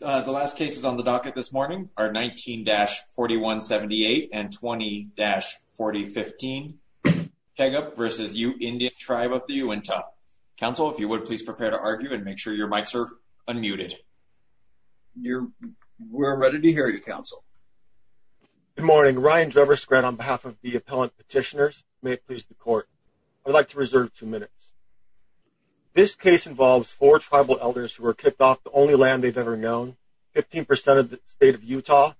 The last cases on the docket this morning are 19-4178 and 20-4015. Pegup v. Ute Indian Tribe of the Uintah. Counsel, if you would please prepare to argue and make sure your mics are unmuted. We're ready to hear you, Counsel. Good morning. Ryan Drever-Skrett on behalf of the Appellant Petitioners. May it please the Court. I would like to reserve two minutes. This case involves four tribal elders who were kicked off the only land they've ever known. Fifteen percent of the state of Utah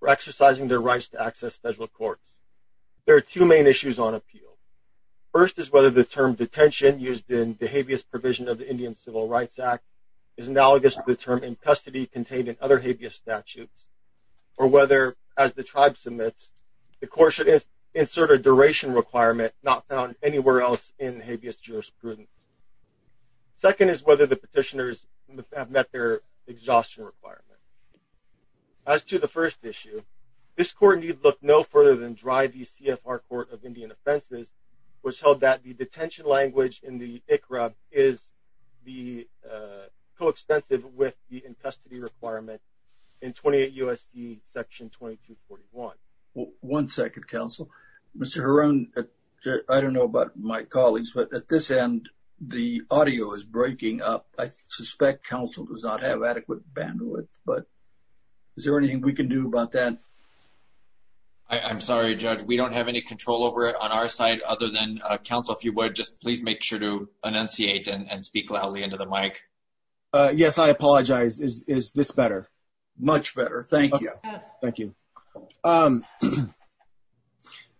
were exercising their rights to access federal courts. There are two main issues on appeal. First is whether the term detention used in the habeas provision of the Indian Civil Rights Act is analogous to the term impustity contained in other habeas statutes, or whether, as the Tribe submits, the Court should insert a duration requirement not found anywhere else in habeas jurisprudence. Second is whether the petitioners have met their exhaustion requirement. As to the first issue, this Court need look no further than dry v. CFR Court of Indian Offenses, which held that the detention language in the ICRA is coextensive with the impustity requirement in 28 U.S.C. section 2241. One second, Counsel. Mr. Heron, I don't know about my colleagues, but at this end, the audio is breaking up. I suspect Counsel does not have adequate bandwidth, but is there anything we can do about that? I'm sorry, Judge. We don't have any control over it on our side other than, Counsel, if you would, just please make sure to enunciate and speak loudly into the mic. Yes, I apologize. Is this better? Much better. Thank you. Thank you.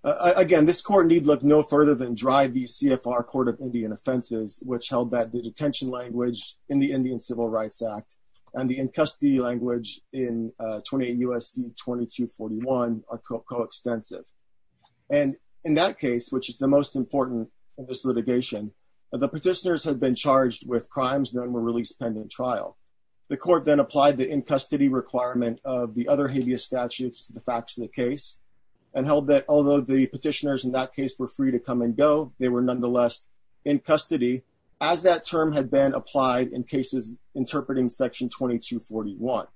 Again, this Court need look no further than dry v. CFR Court of Indian Offenses, which held that the detention language in the Indian Civil Rights Act and the in-custody language in 28 U.S.C. 2241 are coextensive. And in that case, which is the most important in this litigation, the petitioners had been charged with crimes that were released pending trial. The Court then applied the in-custody requirement of the other habeas statutes to the facts of the petitioners in that case were free to come and go. They were nonetheless in custody as that term had been applied in cases interpreting Section 2241.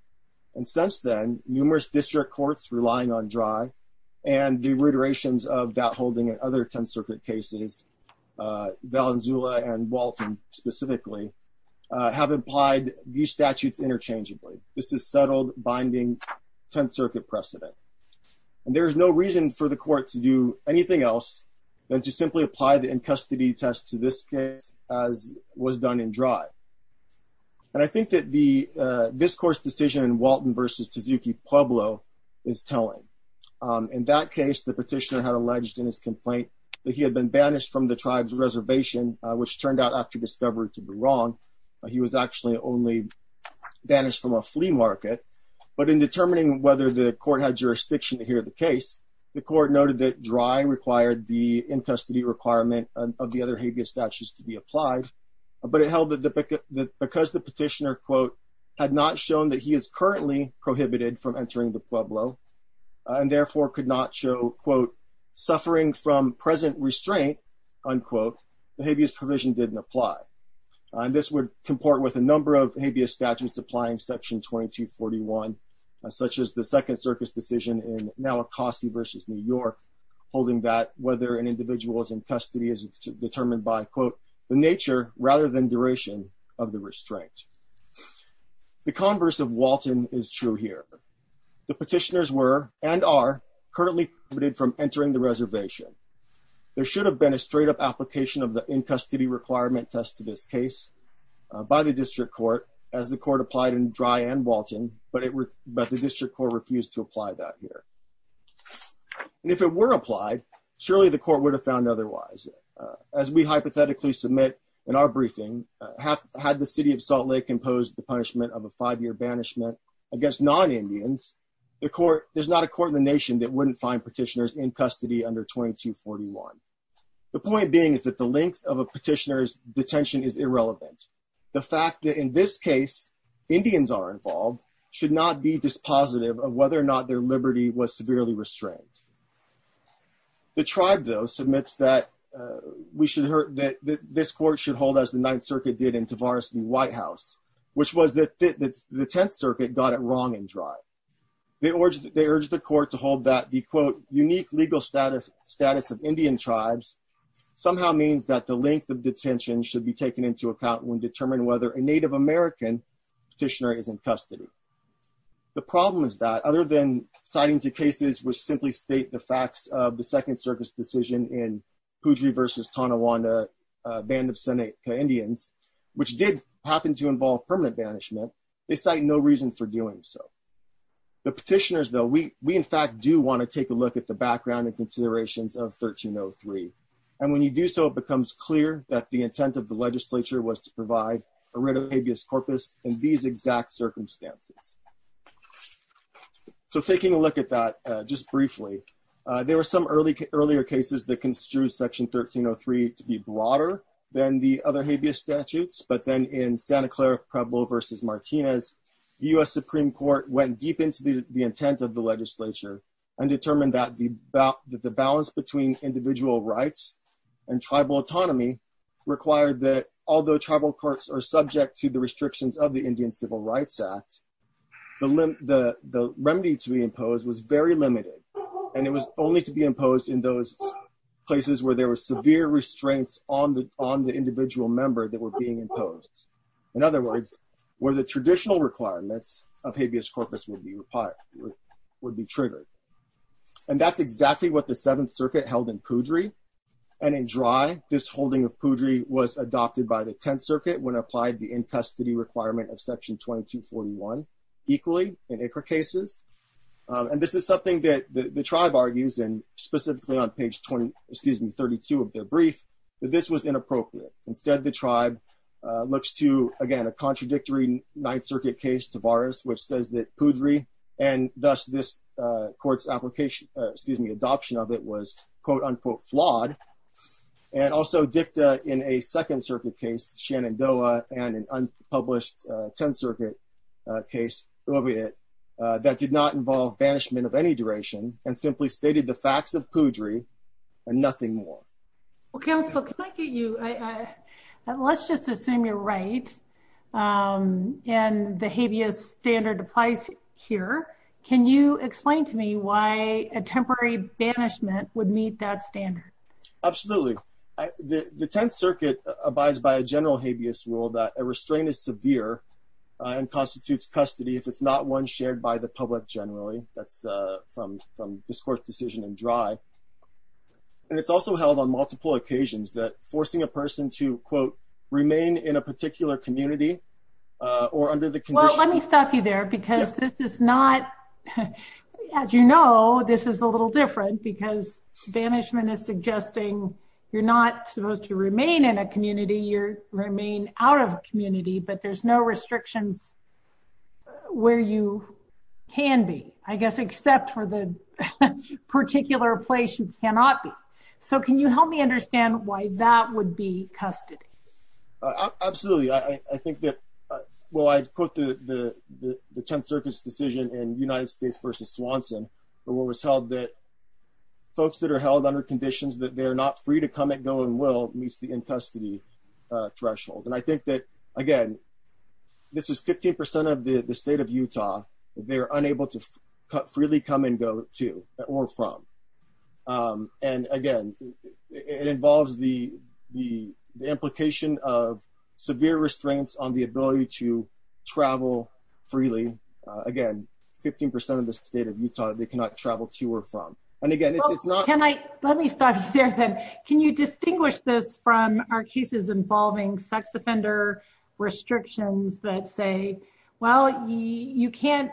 And since then, numerous district courts relying on dry and the reiterations of that holding and other Tenth Circuit cases, Valenzuela and Walton specifically, have applied these statutes interchangeably. This is settled binding Tenth Circuit precedent. And there is no reason for the Court to do anything else than to simply apply the in-custody test to this case as was done in dry. And I think that the discourse decision in Walton v. Tezuki Pueblo is telling. In that case, the petitioner had alleged in his complaint that he had been banished from the tribe's reservation, which turned out after discovery to be wrong. He was actually only banished from a flea market. But in determining whether the Court had jurisdiction to hear the case, the Court noted that dry required the in-custody requirement of the other habeas statutes to be applied. But it held that because the petitioner, quote, had not shown that he is currently prohibited from entering the Pueblo and therefore could not show, quote, suffering from present restraint, unquote, the habeas provision didn't apply. This would comport with a number of habeas statutes applying Section 2241, such as the Second Circus decision in Nowakoski v. New York, holding that whether an individual is in custody is determined by, quote, the nature rather than duration of the restraint. The converse of Walton is true here. The petitioners were and are currently prohibited from entering the reservation. There should have been a straight up application of the in-custody requirement test to this case by the District Court as the Court applied in dry and Walton, but the District Court refused to apply that here. And if it were applied, surely the Court would have found otherwise. As we hypothetically submit in our briefing, had the City of Salt Lake imposed the punishment of a five-year banishment against non-Indians, there's not a court in the nation that wouldn't find petitioners in custody under 2241. The point being is that the length of a petitioner's detention is irrelevant. The fact that in this case Indians are involved should not be dispositive of whether or not their liberty was severely restrained. The tribe, though, submits that this Court should hold as the Ninth Circuit did in Tavares v. Whitehouse, which was that the Tenth Circuit got it wrong in dry. They urged the Court to hold that the, quote, unique legal status of Indian tribes somehow means that the length of detention should be taken into account when determining whether a Native American petitioner is in custody. The problem is that other than citing the cases which simply state the facts of the Second Circuit's decision in Poudrey v. Tonawanda, Band of Seneca Indians, which did happen to involve permanent banishment, they cite no reason for doing so. The petitioners, though, we in fact do want to take a look at the background and considerations of 1303. And when you do so, it becomes clear that the intent of the legislature was to provide a writ of habeas corpus in these exact circumstances. So taking a look at that just briefly, there were some earlier cases that construed Section 1303 to be broader than the other habeas statutes, but then in Santa Clara Pueblo v. Martinez, the U.S. Supreme Court went deep into the intent of the legislature and determined that the balance between individual rights and tribal autonomy required that, although tribal courts are subject to the restrictions of the Indian Civil Rights Act, the remedy to be imposed was very limited. And it was only to be imposed in those places where there were severe restraints on the individual member that were being imposed. In other words, where the traditional requirements of habeas corpus would be triggered. And that's exactly what the Seventh Circuit held in Poudry. And in Dry, this holding of Poudry was adopted by the Tenth Circuit when applied the in-custody requirement of Section 2241, equally in ICRA cases. And this is something that the tribe argues and specifically on page 20, excuse me, 32 of their brief, that this was inappropriate. Instead, the tribe looks to, again, a contradictory Ninth Circuit case, Tavares, which says that Poudry and thus this court's application, excuse me, adoption of it was quote unquote flawed. And also dicta in a Second Circuit case, Shenandoah and an unpublished Tenth Circuit case, Oviet, that did not involve banishment of any duration and simply stated the facts of Poudry and nothing more. Well, counsel, can I get you, let's just assume you're right. And the habeas standard applies here. Can you explain to me why a temporary banishment would meet that standard? Absolutely. The Tenth Circuit abides by a general habeas rule that a restraint is severe and constitutes custody if it's not one shared by the public generally. That's from this court's decision in Dry. And it's also held on multiple occasions that forcing a person to quote, remain in a particular community or under the condition. Well, let me stop you there because this is not, as you know, this is a little different because banishment is suggesting you're not supposed to remain in a community, you remain out of community, but there's no restrictions where you can be, I guess, except for the particular place you cannot be. So can you help me understand why that would be custody? Absolutely. I think that, well, I'd quote the Tenth Circuit's decision in United States versus Swanson, but what was held that folks that are held under conditions that they're not free to come and go and will meets the in custody threshold. And I think that, again, this is 15% of the state of Utah. They're unable to cut freely come and go to or from. And again, it involves the implication of severe restraints on the ability to travel freely. Again, 15% of the state of Utah, they cannot travel to or from. And again, it's not- Can I, let me stop you there then. Can you distinguish this from our cases involving sex offender restrictions that say, well, you can't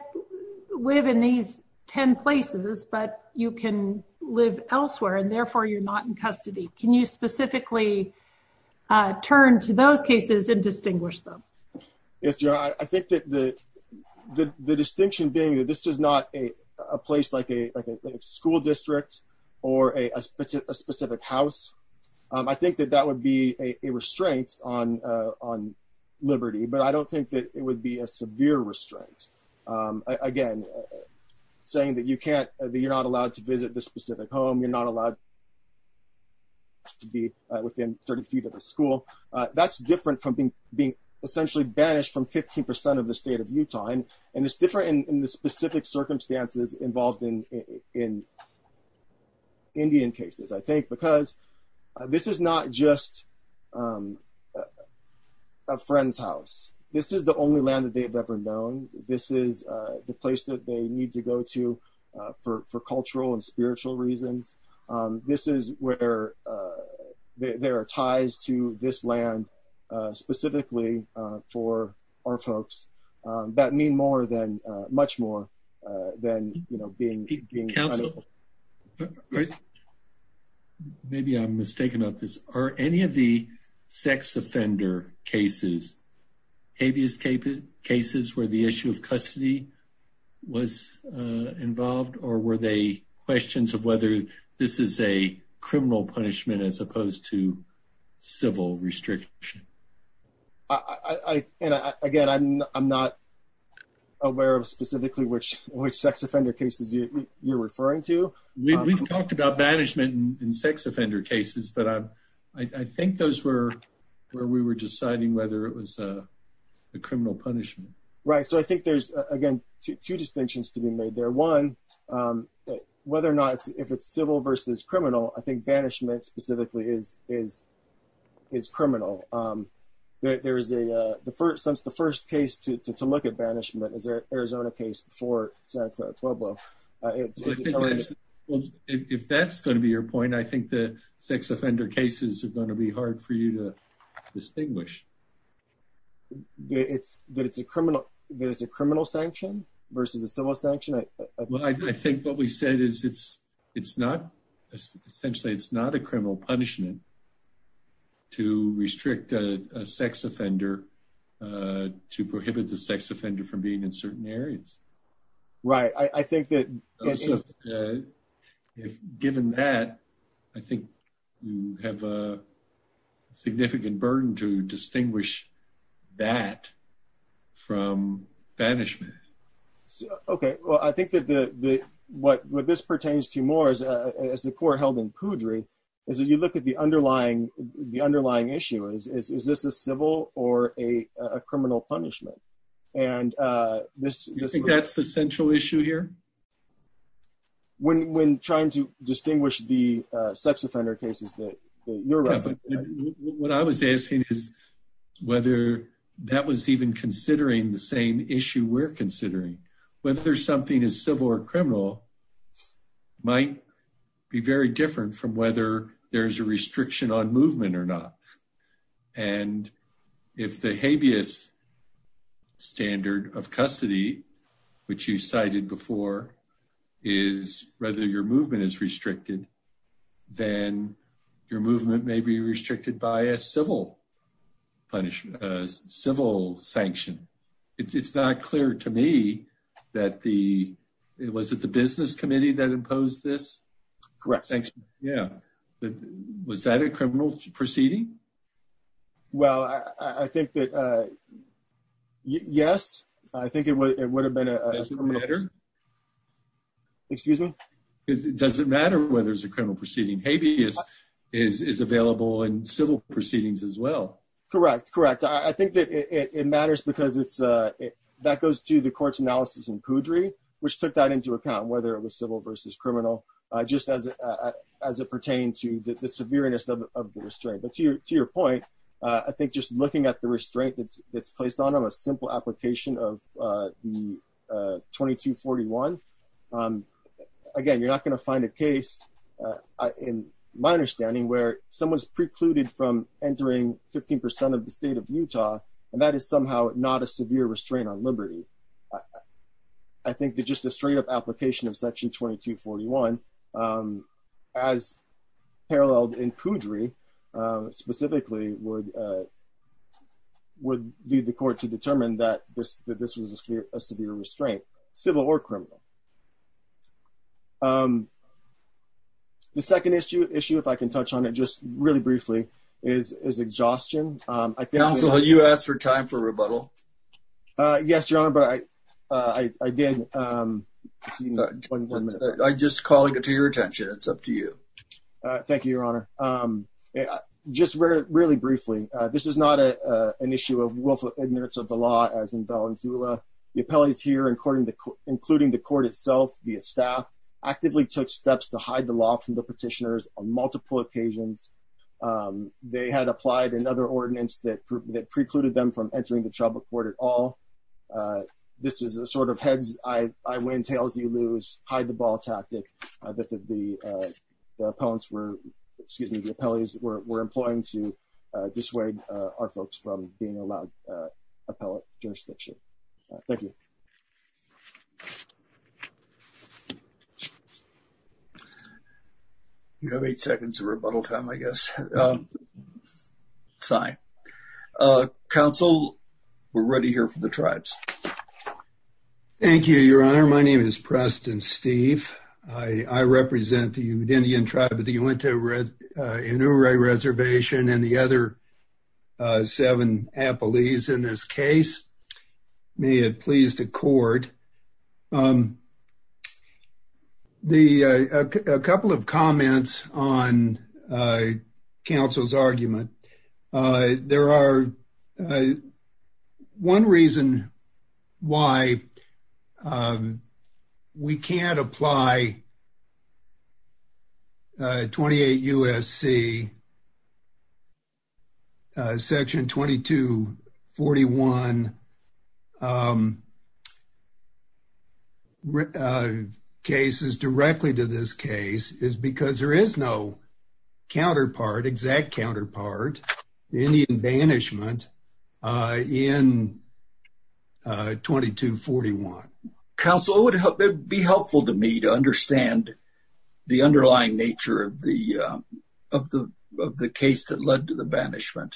live in these 10 places, but you can live elsewhere and therefore you're not in custody. Can you specifically turn to those cases and distinguish them? Yes, your honor. I think that the distinction being that this is not a place like a school district or a specific house. I think that that would be a restraint on liberty, but I don't think that it would be a severe restraint. Again, saying that you can't, that you're not allowed to visit the specific home, you're not allowed to be within 30 feet of the school, that's different from being essentially banished from 15% of the state of Utah. And it's different in the specific circumstances involved in Indian cases. I think because this is not just a friend's house. This is the only land that they've ever known. This is the place that they need to go to for cultural and spiritual reasons. This is where there are ties to this land, specifically for our folks that mean more than, much more than, you know, being- Chris, maybe I'm mistaken about this. Are any of the sex offender cases, habeas cases, where the issue of custody was involved, or were they questions of whether this is a criminal punishment as opposed to civil restriction? And again, I'm not aware of specifically which sex offender cases you're referring to. We've talked about banishment in sex offender cases, but I think those were where we were deciding whether it was a criminal punishment. Right, so I think there's, again, two distinctions to be made there. One, whether or not, if it's civil versus criminal, I think banishment specifically is criminal. Since the first case to look at banishment is the Arizona case before Santa Fe, Pueblo. If that's going to be your point, I think the sex offender cases are going to be hard for you to distinguish. That it's a criminal sanction versus a civil sanction? Well, I think what we said is it's not, essentially, it's not a criminal punishment to restrict a sex offender, to prohibit the sex offender from being in certain areas. Right, I think that- Given that, I think you have a significant burden to distinguish that from banishment. Okay, well, I think that what this pertains to more is, as the court held in Poudry, is that you look at the underlying issue. Is this a civil or a criminal punishment? And this- Do you think that's the central issue here? When trying to distinguish the sex offender cases that you're referencing. What I was asking is whether that was even considering the same issue we're considering. Whether something is civil or criminal might be very different from whether there's a restriction on movement or not. And if the habeas standard of custody, which you cited before, is whether your movement is restricted, then your movement may be restricted by a civil punishment, a civil sanction. It's not clear to me that the- Was it the business committee that imposed this? Correct. Sanction, yeah. Was that a criminal proceeding? Well, I think that, yes. I think it would have been a- Does it matter? Excuse me? Does it matter whether it's a criminal proceeding? Habeas is available in civil proceedings as well. Correct, correct. I think that it matters because that goes to the court's analysis in Poudry, which took that into account, whether it was civil versus criminal, just as it pertained to the severeness of the restraint. To your point, I think just looking at the restraint that's placed on them, a simple application of the 2241, again, you're not going to find a case, in my understanding, where someone's precluded from entering 15% of the state of Utah, and that is somehow not a severe restraint on liberty. I think that just a straight up application of section 2241, as paralleled in Poudry, specifically would lead the court to determine that this was a severe restraint, civil or criminal. The second issue, if I can touch on it just really briefly, is exhaustion. Counsel, you asked for time for rebuttal. Yes, Your Honor, but I did. I'm just calling it to your attention. It's up to you. Thank you, Your Honor. And just really briefly, this is not an issue of willful ignorance of the law, as in Valenzuela. The appellees here, including the court itself, via staff, actively took steps to hide the law from the petitioners on multiple occasions. They had applied another ordinance that precluded them from entering the tribal court at all. This is a sort of heads, I win, tails, you lose, hide the ball tactic that the appellants were, excuse me, the appellees were employing to dissuade our folks from being allowed appellate jurisdiction. Thank you. You have eight seconds of rebuttal time, I guess. Sorry. Counsel, we're ready here for the tribes. Thank you, Your Honor. My name is Preston Steve. I represent the Indian tribe of the Uinta Inure Reservation and the other seven appellees in this case. May it please the court. A couple of comments on counsel's argument. There are one reason why we can't apply 28 U.S.C. Section 2241 cases directly to this case is because there is no counterpart, exact counterpart in the banishment in 2241. Counsel, it would be helpful to me to understand the underlying nature of the case that led to the banishment.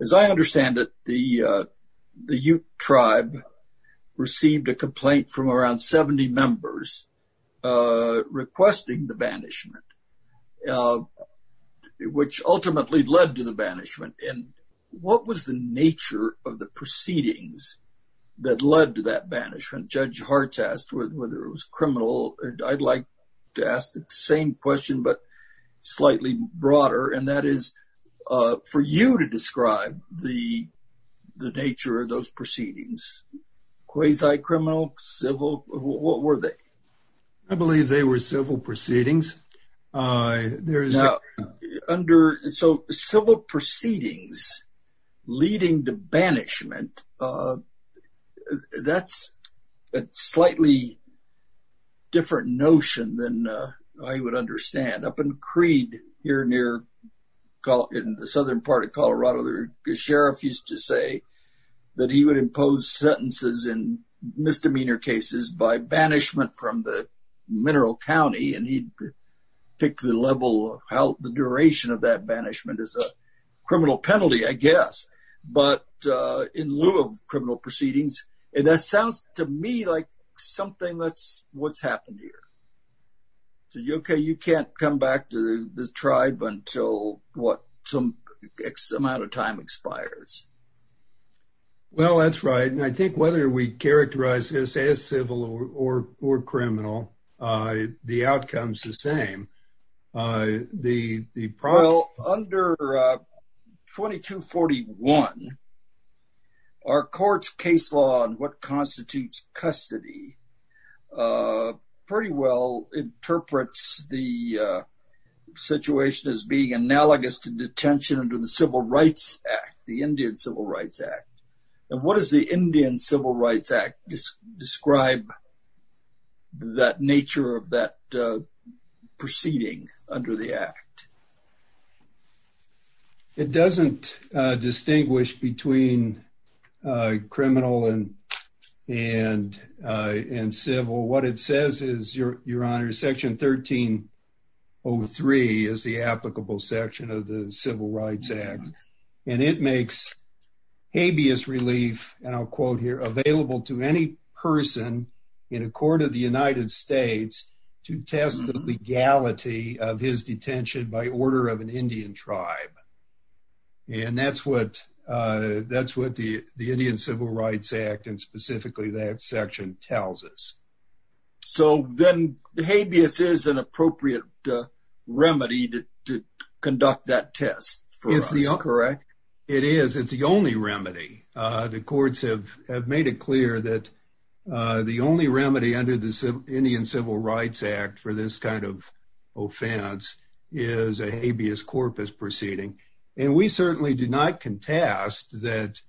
As I understand it, the Ute tribe received a complaint from around 70 members requesting the banishment, which ultimately led to the banishment. What was the nature of the proceedings that led to that banishment? Judge Hart asked whether it was criminal. I'd like to ask the same question, but slightly broader, and that is for you to describe the nature of those proceedings. Quasi-criminal, civil, what were they? I believe they were civil proceedings. Under civil proceedings leading to banishment, that's a slightly different notion than I would understand. Up in Creed, here near, in the southern part of Colorado, the sheriff used to say that he would impose sentences in misdemeanor cases by banishment from the mineral county, and he'd pick the level of how the duration of that banishment is a criminal penalty, I guess. But in lieu of criminal proceedings, and that sounds to me like something that's what's happened here. So you, okay, you can't come back to this tribe until what? Some X amount of time expires. Well, that's right. And I think whether we characterize this as civil or criminal, the outcome's the same. The problem- Well, under 2241, our court's case law on what constitutes custody pretty well interprets the situation as being analogous to detention under the Civil Rights Act, the Indian Civil Rights Act. And what does the Indian Civil Rights Act describe that nature of that proceeding under the act? It doesn't distinguish between criminal and civil. What it says is, Your Honor, section 1303 is the applicable section of the Civil Rights Act. And it makes habeas relief, and I'll quote here, available to any person in a court of the United States to test the legality of his detention by order of an Indian tribe. And that's what the Indian Civil Rights Act, and specifically that section, tells us. So then habeas is an appropriate remedy to conduct that test for us, correct? It is. It's the only remedy. The courts have made it clear that the only remedy under the Indian Civil Rights Act for this kind of offense is a habeas corpus proceeding. And we certainly do not contest that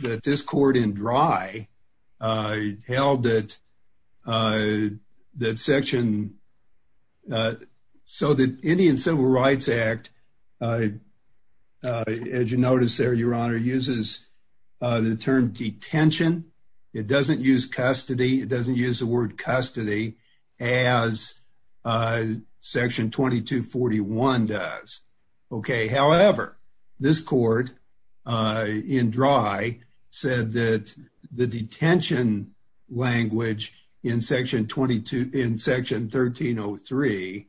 this court in Dry held that section so the Indian Civil Rights Act as you notice there, Your Honor, uses the term detention. It doesn't use custody. It doesn't use the word custody as section 2241 does, okay? However, this court in Dry said that the detention language in section 1303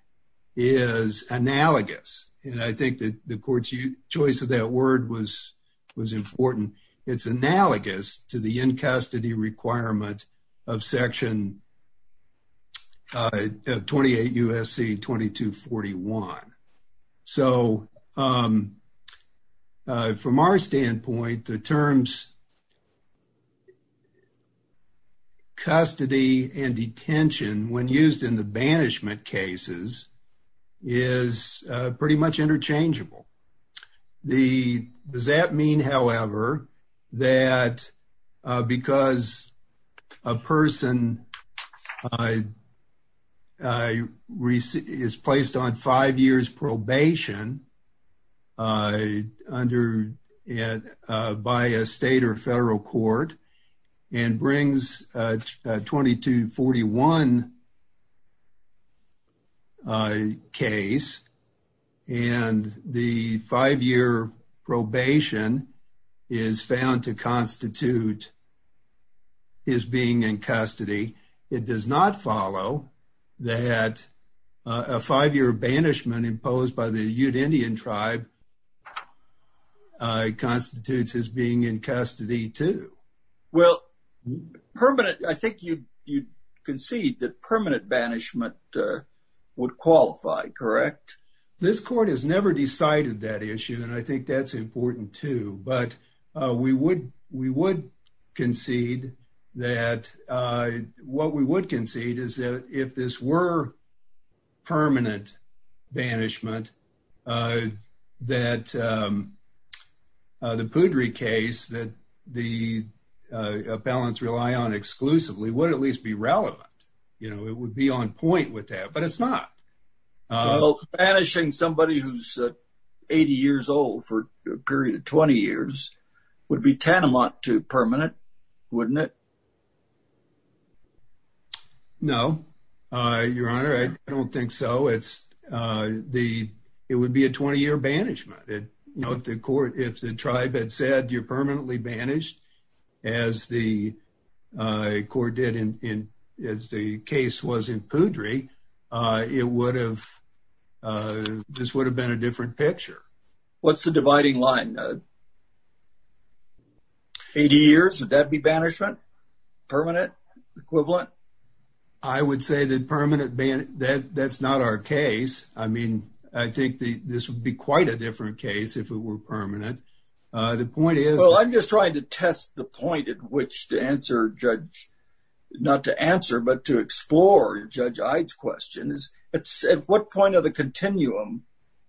is analogous. And I think that the court's choice of that word was important. It's analogous to the in-custody requirement of section 28 U.S.C. 2241. So from our standpoint, the terms custody and detention when used in the banishment cases is pretty much interchangeable. Does that mean, however, that because a person is placed on five years probation by a state or federal court and brings a 2241 case and the five-year probation is found to constitute his being in custody, it does not follow that a five-year banishment imposed by the Ute Indian tribe constitutes his being in custody too? Well, I think you concede that permanent banishment would qualify, correct? This court has never decided that issue, and I think that's important too. But we would concede that what we would concede is that if this were permanent banishment, that the Pudrey case that the appellants rely on exclusively would at least be relevant. You know, it would be on point with that, but it's not. Well, banishing somebody who's 80 years old for a period of 20 years would be tantamount to permanent, wouldn't it? No, Your Honor, I don't think so. It would be a 20-year banishment. If the tribe had said you're permanently banished, as the court did as the case was in Pudrey, it would have— this would have been a different picture. What's the dividing line, Nod? 80 years, would that be banishment? Permanent, equivalent? I would say that permanent ban— that's not our case. I mean, I think this would be quite a different case if it were permanent. The point is— Well, I'm just trying to test the point at which to answer Judge— not to answer, but to explore Judge Ide's questions. At what point of the continuum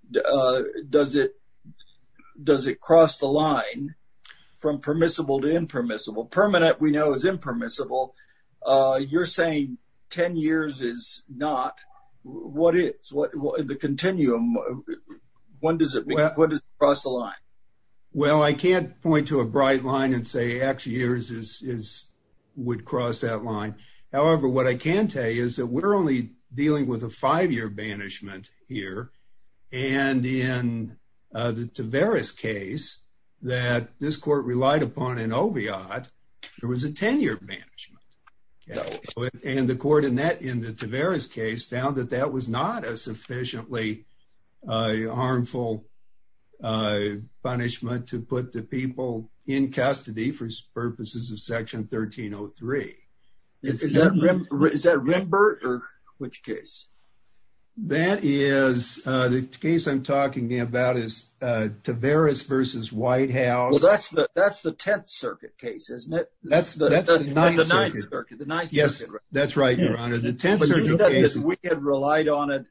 does it cross the line from permissible to impermissible? Permanent, we know, is impermissible. You're saying 10 years is not. What is? The continuum, when does it— when does it cross the line? Well, I can't point to a bright line and say actually years would cross that line. However, what I can tell you is that we're only dealing with a five-year banishment here. And in the Taveras case that this court relied upon in Oviatt, there was a 10-year banishment. And the court in that— in the Taveras case found that that was not a sufficiently harmful punishment to put the people in custody for purposes of Section 1303. Is that Rimbert or which case? That is— the case I'm talking about is Taveras versus White House. Well, that's the 10th Circuit case, isn't it? That's the 9th Circuit. Yes, that's right, Your Honor. The 10th Circuit case— We had relied on it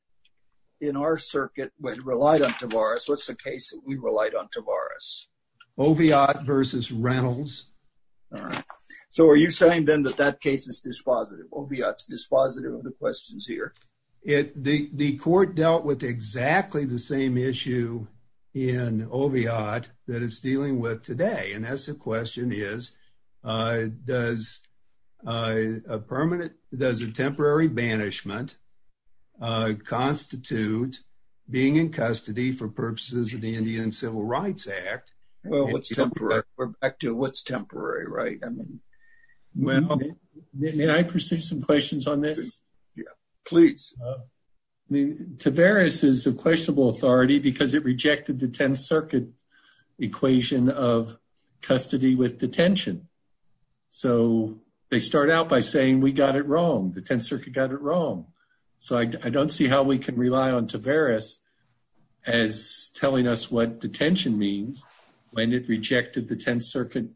in our circuit. We had relied on Taveras. What's the case that we relied on Taveras? Oviatt versus Reynolds. All right. So are you saying then that that case is dispositive? Oviatt's dispositive of the questions here? The court dealt with exactly the same issue in Oviatt that it's dealing with today. And that's the question is, does a permanent— does a temporary banishment constitute being in custody for purposes of the Indian Civil Rights Act? Well, what's temporary? We're back to what's temporary, right? Well— May I pursue some questions on this? Yeah, please. Taveras is a questionable authority because it rejected the 10th Circuit equation of custody with detention. So they start out by saying, we got it wrong. The 10th Circuit got it wrong. So I don't see how we can rely on Taveras as telling us what detention means when it rejected the 10th Circuit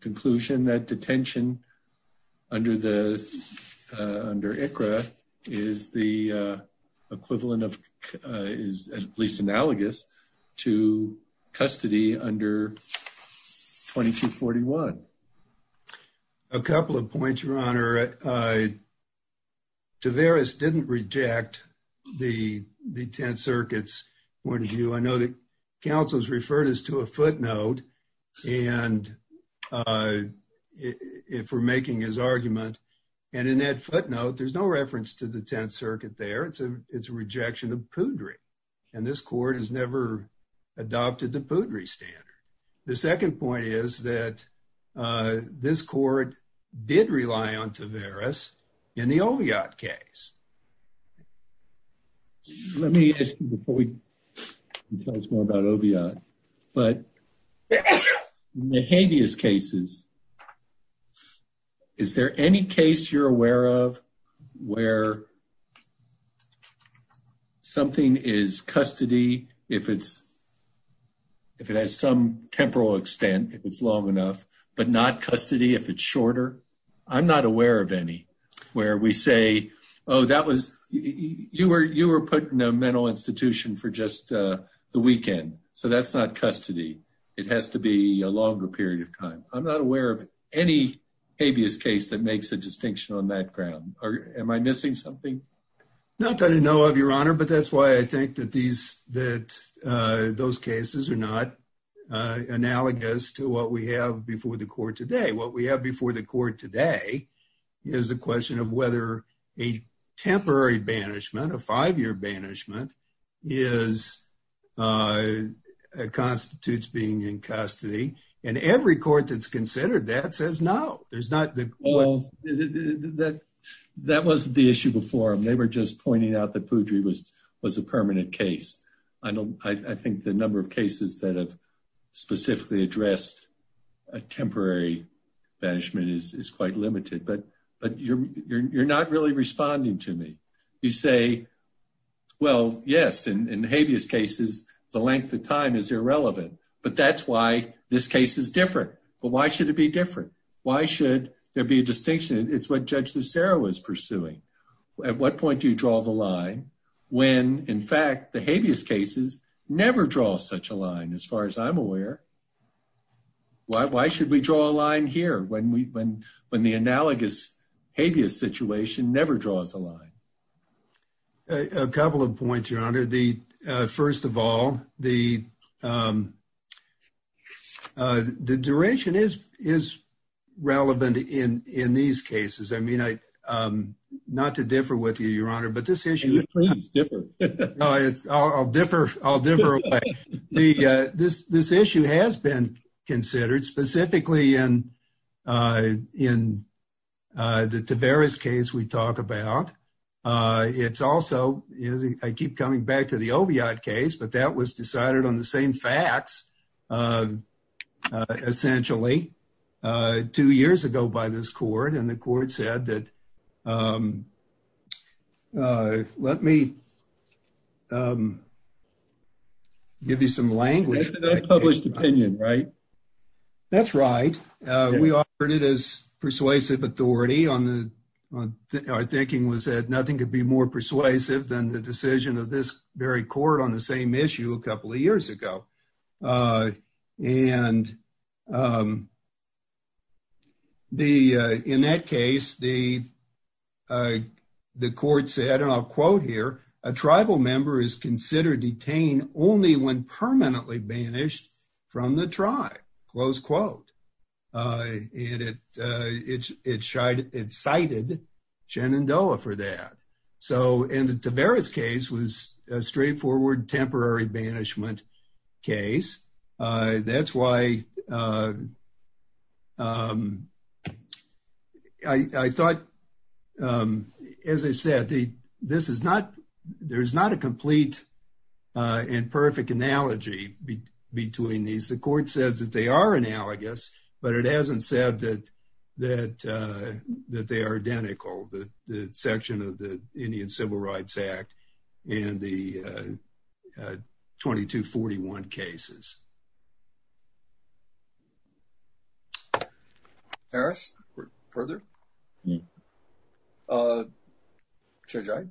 conclusion that detention under ICRA is the equivalent of— is at least analogous to custody under 2241. A couple of points, Your Honor. Taveras didn't reject the 10th Circuit's point of view. I know that counsel has referred us to a footnote and— if we're making his argument. And in that footnote, there's no reference to the 10th Circuit there. It's a— it's a rejection of PUDRE. And this court has never adopted the PUDRE standard. The second point is that this court did rely on Taveras in the Oviatt case. Let me ask you before we tell us more about Oviatt. But in the habeas cases, is there any case you're aware of where something is custody if it's— if it has some temporal extent, if it's long enough, but not custody if it's shorter? I'm not aware of any where we say, oh, that was— you were put in a mental institution for just the weekend. So that's not custody. It has to be a longer period of time. I'm not aware of any habeas case that makes a distinction on that ground. Or am I missing something? Not that I know of, Your Honor, but that's why I think that these— that those cases are not analogous to what we have before the court today. What we have before the court today is a question of whether a temporary banishment, a five-year banishment, is—constitutes being in custody. And every court that's considered that says no. There's not the— Well, that wasn't the issue before. They were just pointing out that Poudry was a permanent case. I don't—I think the number of cases that have specifically addressed a temporary banishment is quite limited. But you're not really responding to me. You say, well, yes, in habeas cases, the length of time is irrelevant. But that's why this case is different. But why should it be different? Why should there be a distinction? It's what Judge Lucero was pursuing. At what point do you draw the line when, in fact, the habeas cases never draw such a line, as far as I'm aware? Why should we draw a line here when we—when the analogous habeas situation never draws a line? A couple of points, Your Honor. The—first of all, the— the duration is relevant in these cases. I mean, I—not to differ with you, Your Honor, but this issue— Can you please differ? No, it's—I'll differ. I'll differ away. The—this issue has been considered, specifically in the Taveras case we talk about. It's also—I keep coming back to the Oviatt case, but that was decided on the same facts, essentially, two years ago by this court. And the court said that— let me give you some language. That's an unpublished opinion, right? That's right. We offered it as persuasive authority on the—our thinking was that nothing could be more persuasive than the decision of this very court on the same issue a couple of years ago. And the—in that case, the court said, and I'll quote here, a tribal member is considered detained only when permanently banished from the tribe, close quote. And it cited Shenandoah for that. So—and the Taveras case was a straightforward, temporary banishment case. That's why I thought, as I said, this is not—there's not a complete and perfect analogy between these. The court says that they are analogous, but it hasn't said that they are identical, the section of the Indian Civil Rights Act and the 2241 cases. Harris, further? Judge Iyad?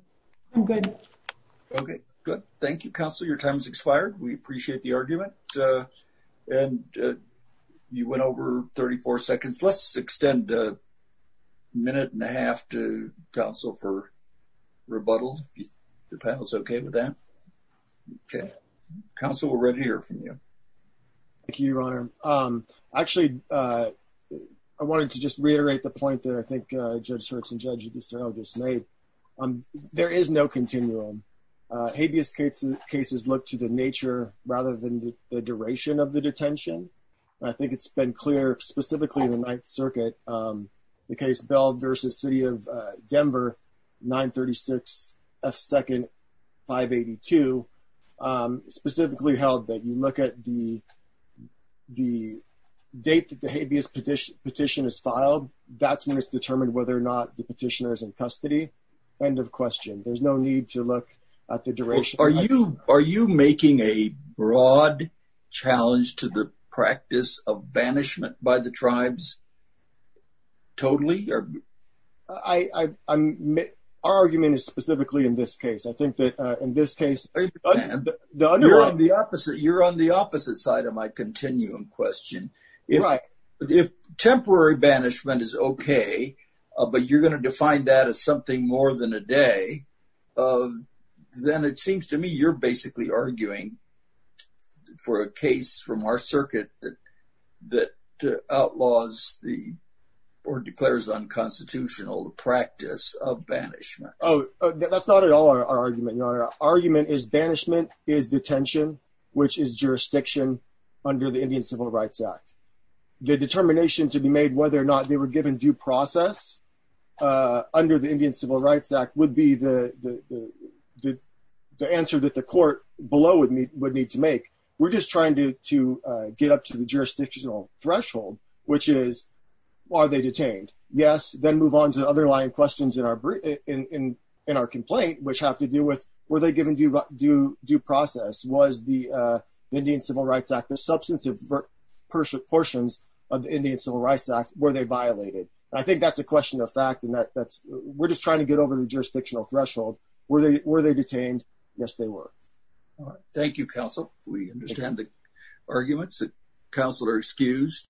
I'm good. Okay, good. Thank you, counsel. Your time has expired. We appreciate the argument. And you went over 34 seconds. Let's extend a minute and a half to counsel for rebuttal, if your panel is okay with that. Okay. Counsel, we're ready to hear from you. Thank you, Your Honor. Actually, I wanted to just reiterate the point that I think Judge Schertz and Judge Yudhisthira just made. There is no continuum. Habeas cases look to the nature rather than the duration of the detention. I think it's been clear specifically in the Ninth Circuit, the case Bell v. City of Denver, 936 F. 2nd 582, specifically held that you look at the date that the habeas petition is filed. That's when it's determined whether or not the petitioner is in custody. End of question. There's no need to look at the duration. Are you making a broad challenge to the practice of banishment by the tribes totally? Our argument is specifically in this case. I think that in this case... You're on the opposite side of my continuum question. If temporary banishment is okay, but you're going to define that as something more than a day, then it seems to me you're basically arguing for a case from our circuit that outlaws or declares unconstitutional the practice of banishment. Oh, that's not at all our argument, Your Honor. Our argument is banishment is detention, which is jurisdiction under the Indian Civil Rights Act. The determination to be made whether or not they were given due process under the Indian Civil Rights Act would be the answer that the court below would need to make. We're just trying to get up to the jurisdictional threshold, which is, are they detained? Yes. Then move on to the underlying questions in our complaint, which have to do with, were they given due process? Was the Indian Civil Rights Act, the substantive portions of the Indian Civil Rights Act, were they violated? I think that's a question of fact. We're just trying to get over the jurisdictional threshold. Were they detained? Yes, they were. All right. Thank you, counsel. We understand the arguments that counsel are excused.